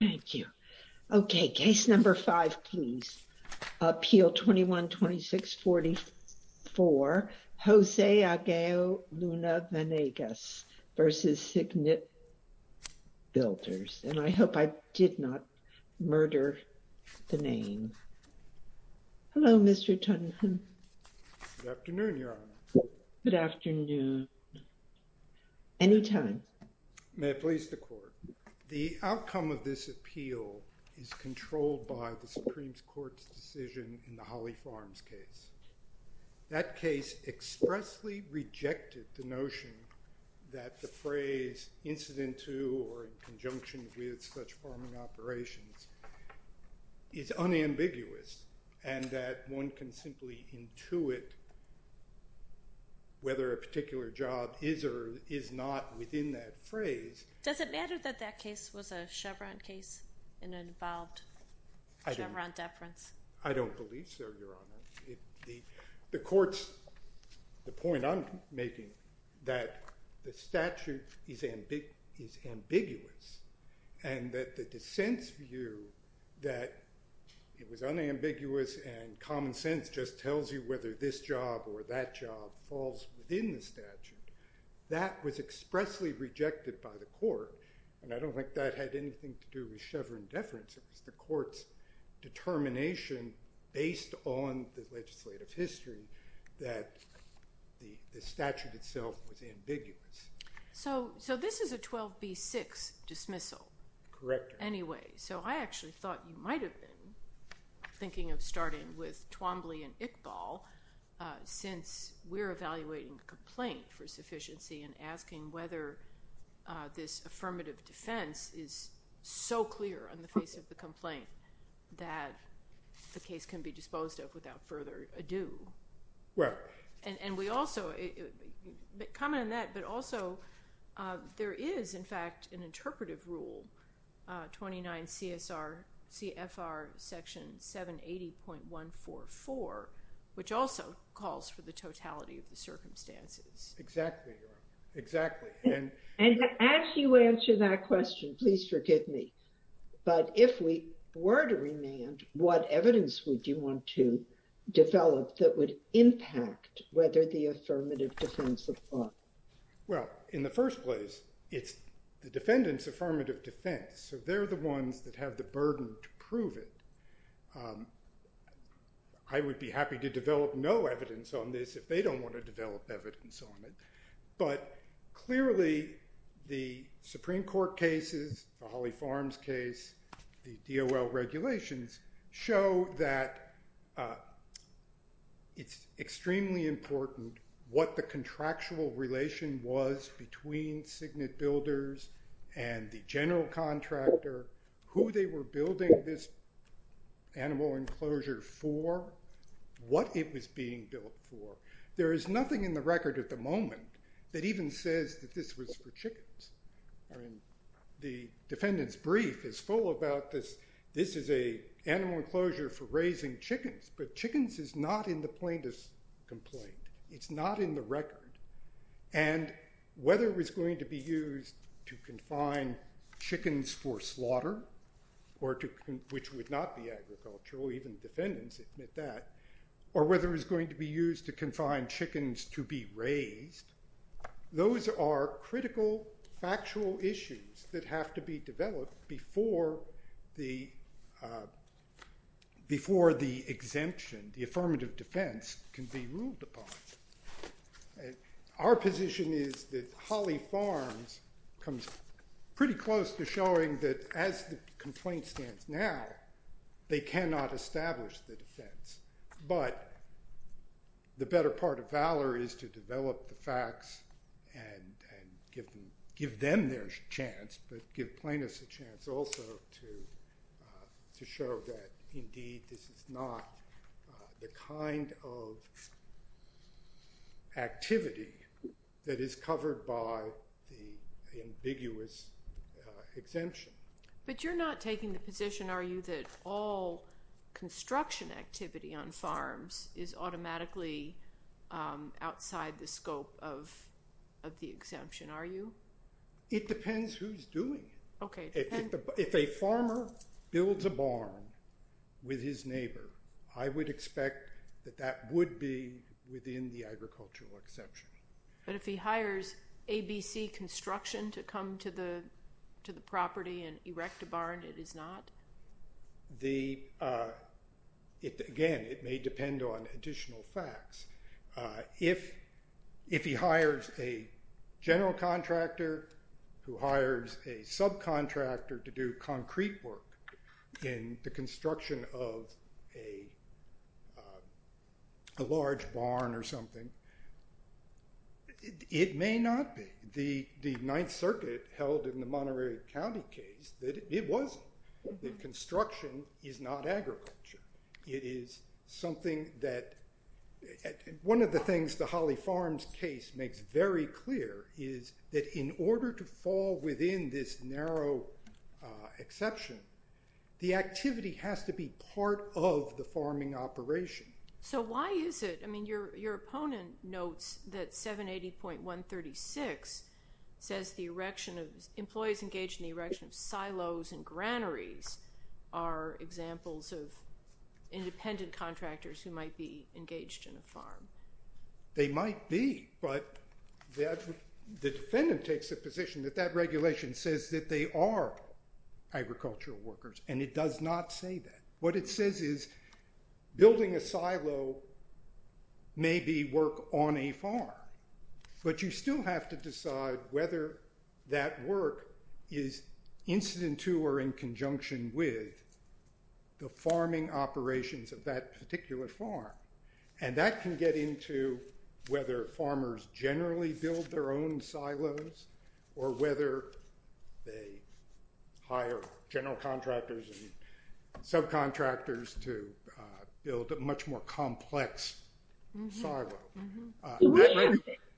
Thank you. Okay, case number five, please. Appeal 2126-44, Jose Ageo Luna Vanegas versus Signet Builders. And I hope I did not murder the name. Hello, Mr. Tunham. Good afternoon, Your Honor. Good afternoon. Any time. May it please the court. The outcome of this appeal is controlled by the Supreme Court's decision in the Holly Farms case. That case expressly rejected the notion that the phrase incident to or in conjunction with such farming operations is unambiguous and that one can simply intuit whether a particular job is or is not within that phrase. Does it matter that that case was a Chevron case in an involved Chevron deference? I don't believe so, Your Honor. The court's, the point I'm making that the statute is ambiguous and that the dissent's view that it was unambiguous and common sense just tells you whether this job or that job falls within the statute. That was expressly rejected by the court and I don't think that had anything to do with Chevron deference, it was the court's determination based on the legislative history that the statute itself was ambiguous. So this is a 12B6 dismissal. Correct. Anyway, so I actually thought you might've been thinking of starting with Twombly and Iqbal since we're evaluating a complaint for sufficiency and asking whether this affirmative defense is so clear on the face of the complaint that the case can be disposed of without further ado. Right. And we also, comment on that, but also there is, in fact, an interpretive rule, 29 CFR Section 780.144, which also calls for the totality of the circumstances. Exactly, exactly. And as you answer that question, please forgive me, but if we were to remand, what evidence would you want to develop that would impact whether the affirmative defense apply? Well, in the first place, it's the defendant's affirmative defense. So they're the ones that have the burden to prove it. I would be happy to develop no evidence on this if they don't want to develop evidence on it. But clearly the Supreme Court cases, the Holly Farms case, the DOL regulations show that it's extremely important what the contractual relation was between signet builders and the general contractor, who they were building this animal enclosure for, what it was being built for. There is nothing in the record at the moment that even says that this was for chickens. I mean, the defendant's brief is full about this. This is a animal enclosure for raising chickens, but chickens is not in the plaintiff's complaint. It's not in the record. And whether it was going to be used to confine chickens for slaughter, or which would not be agricultural, even defendants admit that, or whether it was going to be used to confine chickens to be raised, those are critical, factual issues that have to be developed before the exemption, the affirmative defense can be ruled upon. And our position is that Holly Farms comes pretty close to showing that as the complaint stands now, they cannot establish the defense. But the better part of valor is to develop the facts and give them their chance, but give plaintiffs a chance also to show that, indeed, this is not the kind of activity that is covered by the ambiguous exemption. But you're not taking the position, are you, that all construction activity on farms is automatically outside the scope of the exemption, are you? It depends who's doing it. Okay. If a farmer builds a barn with his neighbor, I would expect that that would be within the agricultural exception. But if he hires ABC Construction to come to the property and erect a barn, it is not? Again, it may depend on additional facts. If he hires a general contractor who hires a subcontractor to do concrete work in the construction of a large barn or something, it may not be. The Ninth Circuit held in the Monterey County case that it wasn't, that construction is not agriculture. It is something that, one of the things the Holly Farms case makes very clear is that in order to fall within this narrow exception, the activity has to be part of the farming operation. So why is it, I mean, your opponent notes that 780.136 says the erection of, employees engaged in the erection of silos and granaries are examples of independent contractors who might be engaged in a farm. They might be, but the defendant takes the position that that regulation says that they are agricultural workers and it does not say that. What it says is building a silo may be work on a farm, but you still have to decide whether that work is incident to or in conjunction with the farming operations of that particular farm. And that can get into whether farmers generally build their own silos or whether they hire general contractors and subcontractors to build a much more complex silo.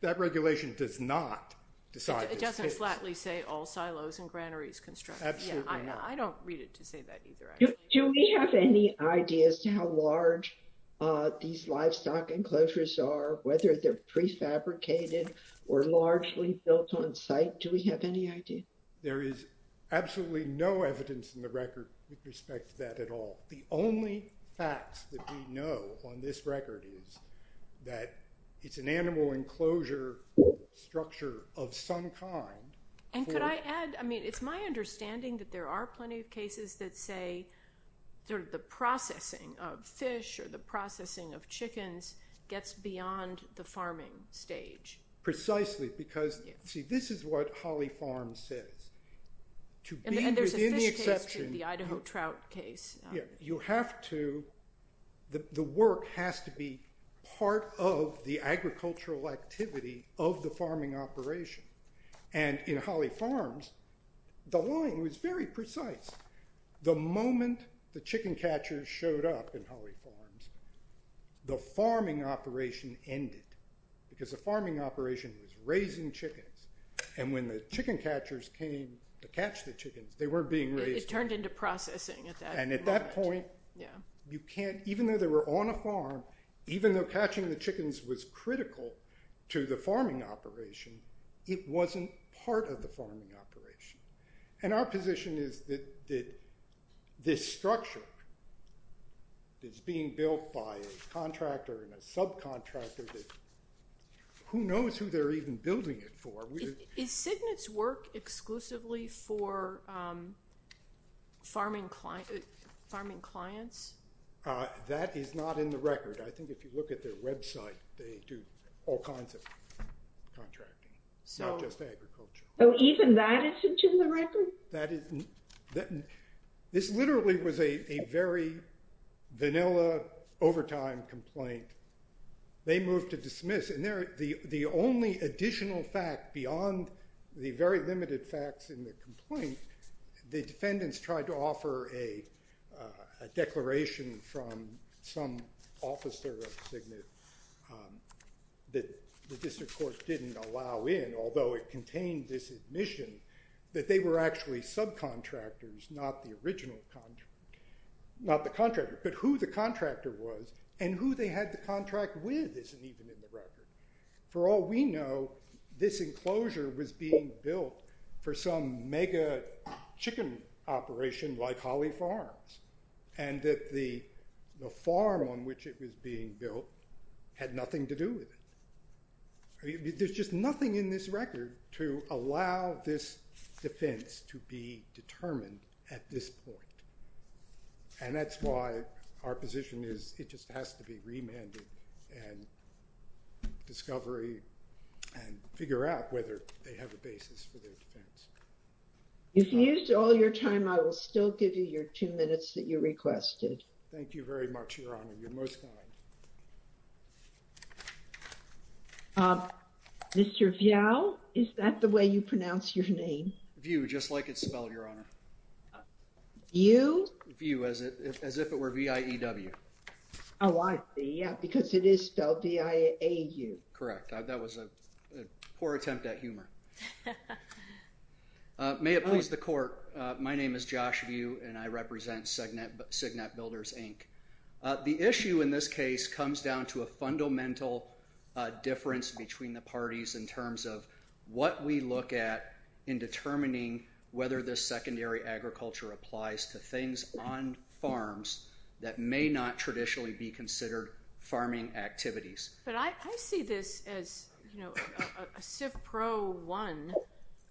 That regulation does not decide. It doesn't flatly say all silos and granaries constructed. Absolutely not. I don't read it to say that either. Do we have any ideas to how large these livestock enclosures are, whether they're prefabricated or largely built on site? Do we have any idea? There is absolutely no evidence in the record with respect to that at all. The only facts that we know on this record is that it's an animal enclosure structure of some kind. And could I add, I mean, it's my understanding that there are plenty of cases that say sort of the processing of fish or the processing of chickens gets beyond the farming stage. Precisely, because see, this is what Holly Farms says. And there's a fish case too, the Idaho trout case. You have to, the work has to be part of the agricultural activity of the farming operation. And in Holly Farms, the line was very precise. The moment the chicken catchers showed up in Holly Farms, the farming operation ended because the farming operation was raising chickens. And when the chicken catchers came to catch the chickens, they weren't being raised. It turned into processing at that point. And at that point, you can't, even though they were on a farm, even though catching the chickens was critical to the farming operation, it wasn't part of the farming operation. And our position is that this structure is being built by a contractor and a subcontractor that who knows who they're even building it for. Is Cygnet's work exclusively for farming clients? That is not in the record. I think if you look at their website, they do all kinds of contracting, not just agriculture. Oh, even that isn't in the record? This literally was a very vanilla overtime complaint. They moved to dismiss. And the only additional fact beyond the very limited facts in the complaint, the defendants tried to offer a declaration from some officer of Cygnet that the district court didn't allow in, although it contained this admission, that they were actually subcontractors, not the original, not the contractor, but who the contractor was and who they had the contract with isn't even in the record. For all we know, this enclosure was being built for some mega chicken operation like Holly Farms. And that the farm on which it was being built had nothing to do with it. There's just nothing in this record to allow this defense to be determined at this point. And that's why our position is it just has to be remanded and discovery and figure out whether they have a basis for their defense. If you used all your time, I will still give you your two minutes that you requested. Thank you very much, Your Honor. You're most kind. Mr. Viau, is that the way you pronounce your name? View, just like it's spelled, Your Honor. View? View, as if it were V-I-E-W. Oh, I see. Yeah, because it is spelled V-I-A-U. Correct. That was a poor attempt at humor. May it please the court. My name is Josh View, and I represent Cignet Builders, Inc. The issue in this case comes down to a fundamental difference between the parties in terms of what we look at in determining whether this secondary agriculture applies to things on farms that may not traditionally be considered farming activities. But I see this as a civ pro one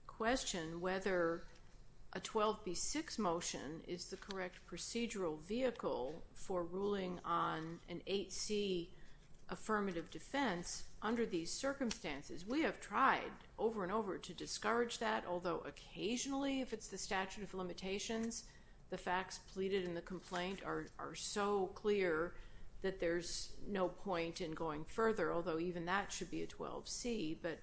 question, whether a 12B6 motion is the correct procedural vehicle for ruling on an 8C affirmative defense under these circumstances. We have tried over and over to discourage that, although occasionally, if it's the statute of limitations, the facts pleaded in the complaint are so clear that there's no point in going further, although even that should be a 12C. But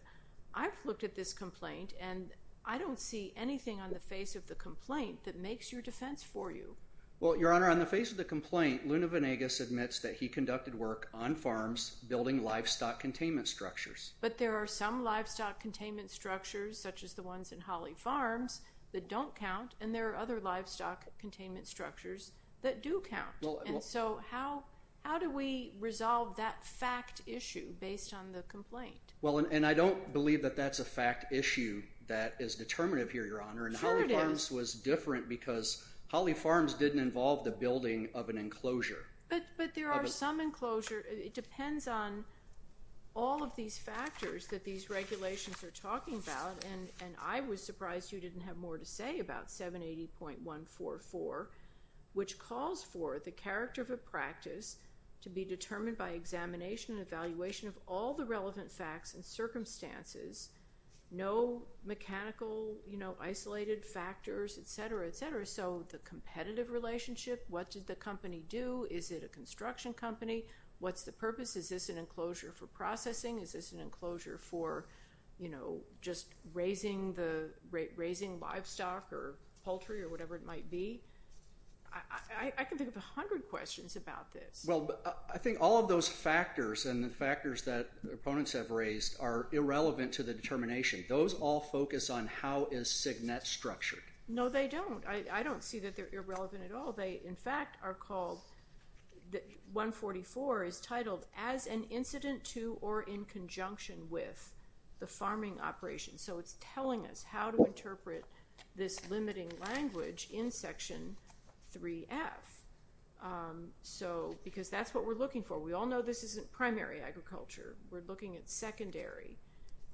I've looked at this complaint, and I don't see anything on the face of the complaint that makes your defense for you. Well, Your Honor, on the face of the complaint, Luna Venegas admits that he conducted work on farms building livestock containment structures. But there are some livestock containment structures, such as the ones in Holly Farms, that don't count, and there are other livestock containment structures that do count. And so how do we resolve that fact issue based on the complaint? Well, and I don't believe that that's a fact issue that is determinative here, Your Honor. And Holly Farms was different because Holly Farms didn't involve the building of an enclosure. But there are some enclosure, it depends on all of these factors that these regulations are talking about. And I was surprised you didn't have more to say about 780.144, which calls for the character of a practice to be determined by examination and evaluation of all the relevant facts and circumstances, no mechanical isolated factors, et cetera, et cetera. So the competitive relationship, what did the company do? Is it a construction company? What's the purpose? Is this an enclosure for processing? Is this an enclosure for just raising livestock or poultry or whatever it might be? I can think of a hundred questions about this. Well, I think all of those factors and the factors that opponents have raised are irrelevant to the determination. Those all focus on how is Signet structured. No, they don't. I don't see that they're irrelevant at all. They, in fact, are called, 144 is titled as an incident to or in conjunction with the farming operation. So it's telling us how to interpret this limiting language in section 3F. So, because that's what we're looking for. We all know this isn't primary agriculture. We're looking at secondary.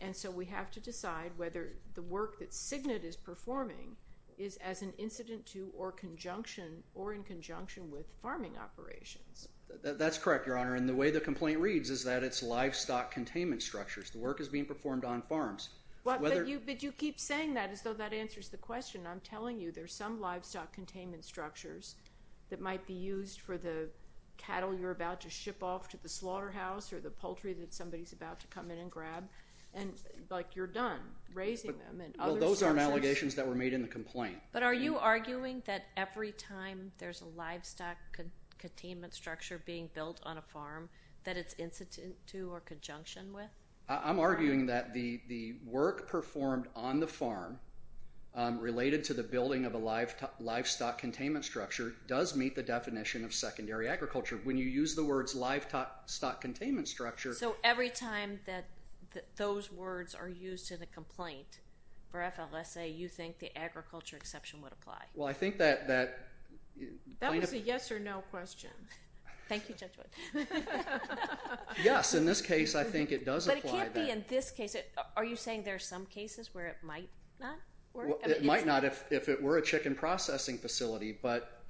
And so we have to decide whether the work that Signet is performing is as an incident to or conjunction or in conjunction with farming operations. That's correct, Your Honor. And the way the complaint reads is that it's livestock containment structures. The work is being performed on farms. But you keep saying that as though that answers the question. I'm telling you, there's some livestock containment structures that might be used for the cattle you're about to ship off to the slaughterhouse or the poultry that somebody's about to come in and grab. And like, you're done raising them and other sources. Well, those aren't allegations that were made in the complaint. But are you arguing that every time there's a livestock containment structure being built on a farm that it's incident to or conjunction with? I'm arguing that the work performed on the farm related to the building of a livestock containment structure does meet the definition of secondary agriculture. When you use the words livestock containment structure. So every time that those words are used in a complaint for FLSA, you think the agriculture exception would apply? Well, I think that... That was a yes or no question. Thank you, Judge Wood. Yes, in this case, I think it does apply. But it can't be in this case. Are you saying there are some cases where it might not work? It might not if it were a chicken processing facility, but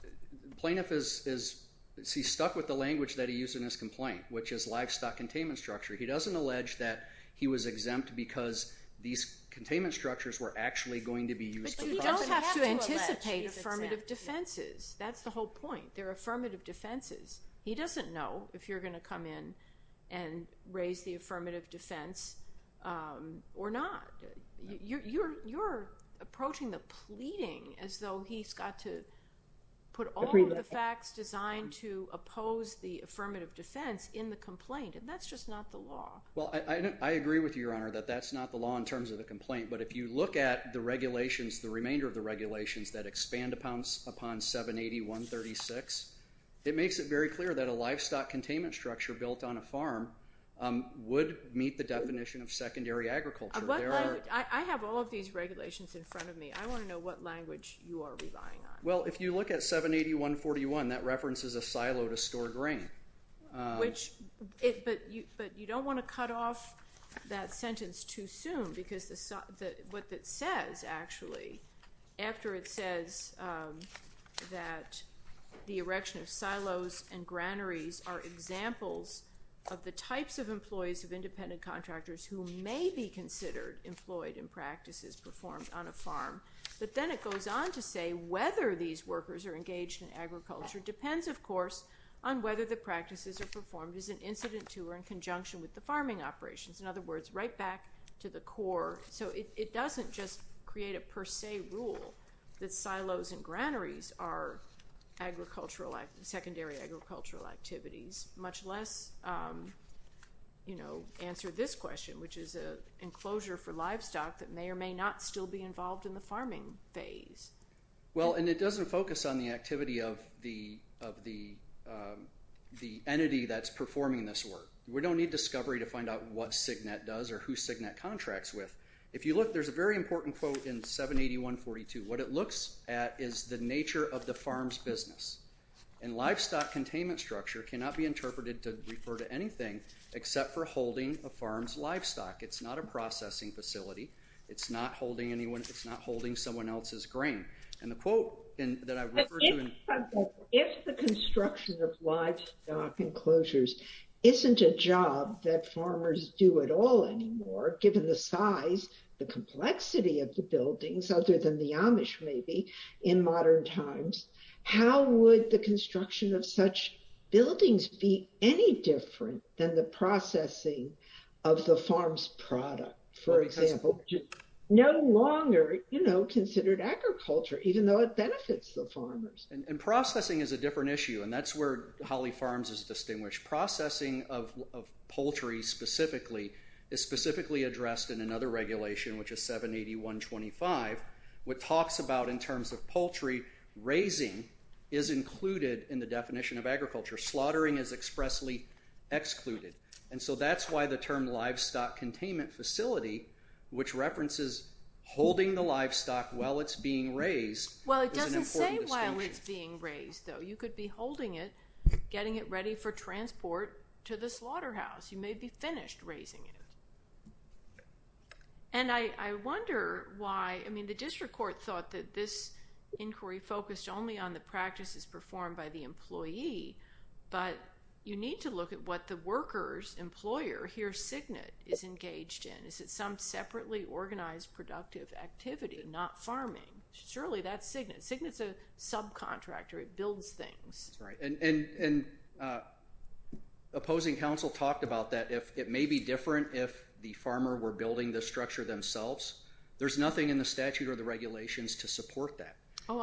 plaintiff is stuck with the language that he used in his complaint, which is livestock containment structure. He doesn't allege that he was exempt because these containment structures were actually going to be used. But you don't have to anticipate affirmative defenses. That's the whole point. They're affirmative defenses. He doesn't know if you're gonna come in and raise the affirmative defense or not. You're approaching the pleading as though he's got to put all of the facts designed to oppose the affirmative defense in the complaint. And that's just not the law. Well, I agree with you, Your Honor, that that's not the law in terms of the complaint. But if you look at the regulations, the remainder of the regulations that expand upon 780.136, it makes it very clear that a livestock containment structure built on a farm would meet the definition of secondary agriculture. I have all of these regulations in front of me. I wanna know what language you are relying on. Well, if you look at 780.141, that references a silo to store grain. But you don't wanna cut off that sentence too soon because what it says, actually, after it says that the erection of silos and granaries are examples of the types of employees of independent contractors who may be considered employed in practices performed on a farm. But then it goes on to say whether these workers are engaged in agriculture depends, of course, on whether the practices are performed as an incident to or in conjunction with the farming operations. In other words, right back to the core. So it doesn't just create a per se rule that silos and granaries are secondary agricultural activities much less answer this question, which is an enclosure for livestock that may or may not still be involved in the farming phase. Well, and it doesn't focus on the activity of the entity that's performing this work. We don't need discovery to find out what Cignet does or who Cignet contracts with. If you look, there's a very important quote in 780.142. What it looks at is the nature of the farm's business. And livestock containment structure cannot be interpreted to refer to anything except for holding a farm's livestock. It's not a processing facility. It's not holding anyone. It's not holding someone else's grain. And the quote that I've referred to- If the construction of livestock enclosures isn't a job that farmers do at all anymore, given the size, the complexity of the buildings, other than the Amish maybe in modern times, how would the construction of such buildings be any different than the processing of the farm's product? For example, no longer considered agriculture, even though it benefits the farmers. And processing is a different issue. And that's where Holly Farms is distinguished. Processing of poultry specifically is specifically addressed in another regulation, which is 780.125, which talks about in terms of poultry, raising is included in the definition of agriculture. Slaughtering is expressly excluded. And so that's why the term livestock containment facility, which references holding the livestock while it's being raised- Well, it doesn't say while it's being raised, though. You could be holding it, getting it ready for transport to the slaughterhouse. You may be finished raising it. And I wonder why, I mean, the district court thought that this inquiry focused only on the practices performed by the employee, but you need to look at what the worker's employer, here Signet, is engaged in. Is it some separately organized productive activity, not farming? Surely that's Signet. Signet's a subcontractor. It builds things. That's right. And opposing counsel talked about that. It may be different if the farmer were building the structure themselves. There's nothing in the statute or the regulations to support that.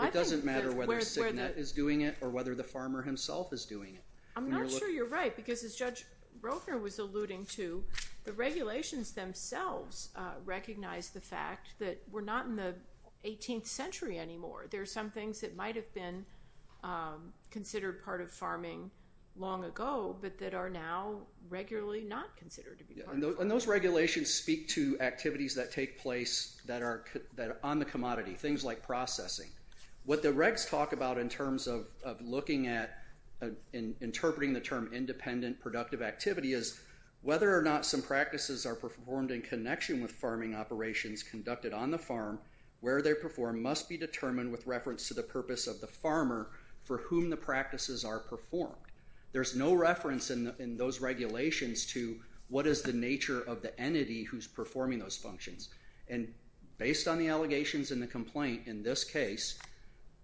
It doesn't matter whether Signet is doing it or whether the farmer himself is doing it. I'm not sure you're right, because as Judge Rother was alluding to, the regulations themselves recognize the fact that we're not in the 18th century anymore. There are some things that might have been considered part of farming long ago, but that are now regularly not considered to be part of farming. And those regulations speak to activities that take place that are on the commodity, things like processing. What the regs talk about in terms of looking at and interpreting the term independent productive activity is whether or not some practices are performed in connection with farming operations conducted on the farm, where they're performed must be determined with reference to the purpose of the farmer for whom the practices are performed. There's no reference in those regulations to what is the nature of the entity who's performing those functions. And based on the allegations in the complaint, in this case,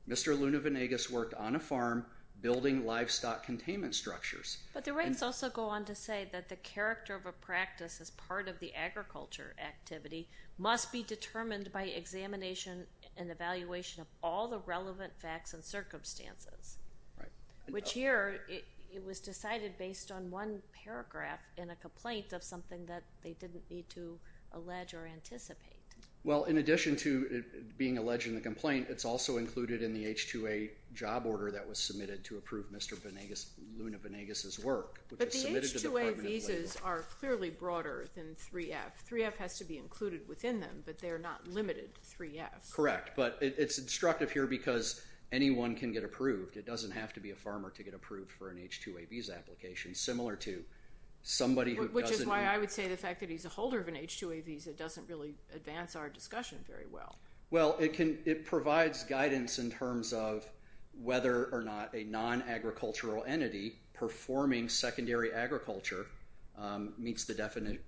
Mr. Luna-Venegas worked on a farm building livestock containment structures. But the regs also go on to say that the character of a practice as part of the agriculture activity must be determined by examination and evaluation of all the relevant facts and circumstances. Right. Which here, it was decided based on one paragraph in a complaint of something that they didn't need to allege or anticipate. Well, in addition to being alleged in the complaint, it's also included in the H-2A job order that was submitted to approve Mr. Luna-Venegas' work. But the H-2A visas are clearly broader than 3F. 3F has to be included within them, but they're not limited to 3F. Correct, but it's instructive here because anyone can get approved. It doesn't have to be a farmer to get approved for an H-2A visa application, similar to somebody who doesn't need it. Which is why I would say the fact that he's a holder of an H-2A visa doesn't really advance our discussion very well. Well, it provides guidance in terms of whether or not a non-agricultural entity performing secondary agriculture meets the definition,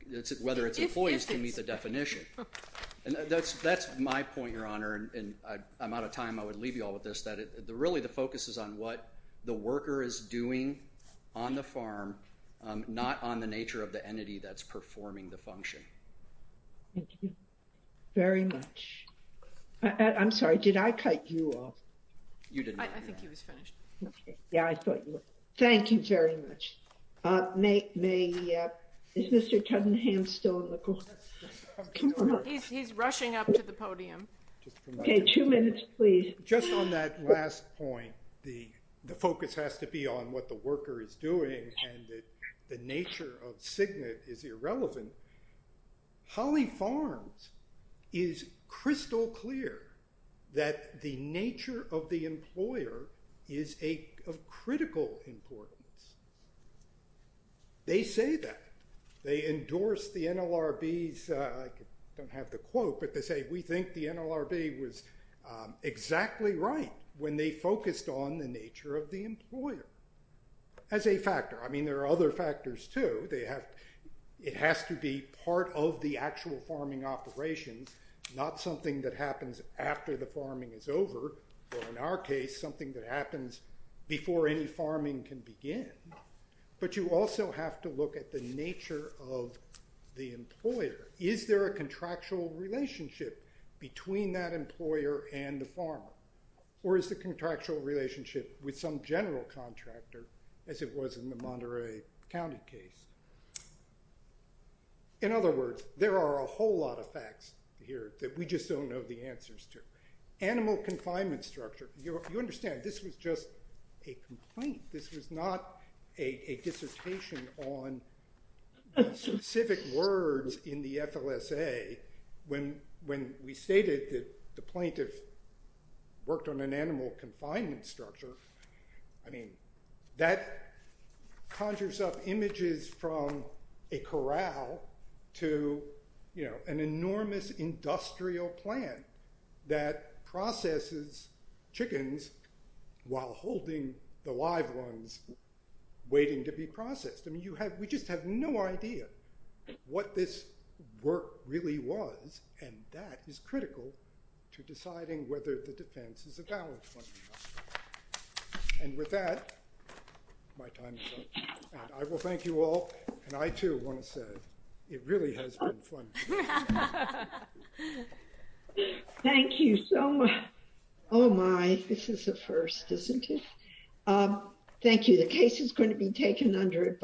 whether its employees can meet the definition. And that's my point, Your Honor, and I'm out of time. I would leave you all with this, that really the focus is on what the worker is doing on the farm, not on the nature of the entity that's performing the function. Thank you very much. I'm sorry, did I cut you off? You didn't. I think he was finished. Yeah, I thought you were. Thank you very much. Is Mr. Cunningham still in the court? He's rushing up to the podium. Okay, two minutes, please. Just on that last point, the focus has to be on what the worker is doing and the nature of CIGNET is irrelevant. Holly Farms is crystal clear that the nature of the employer is of critical importance. They say that. They endorse the NLRB's, I don't have the quote, but they say we think the NLRB was exactly right when they focused on the nature of the employer as a factor. I mean, there are other factors too. It has to be part of the actual farming operations, not something that happens after the farming is over, or in our case, something that happens before any farming can begin. But you also have to look at the nature of the employer. Is there a contractual relationship between that employer and the farmer? Or is the contractual relationship with some general contractor as it was in the Monterey County case? In other words, there are a whole lot of facts here that we just don't know the answers to. Animal confinement structure. You understand, this was just a complaint. This was not a dissertation on the specific words in the FLSA. When we stated that the plaintiff worked on an animal confinement structure, I mean, that conjures up images from a corral to an enormous industrial plant that processes chickens while holding the live ones waiting to be processed. I mean, we just have no idea what this work really was. And that is critical to deciding whether the defense is a valid one or not. And with that, my time is up. And I will thank you all. And I too want to say, it really has been fun. Thank you so much. Oh my, this is a first, isn't it? Thank you. The case is going to be taken under-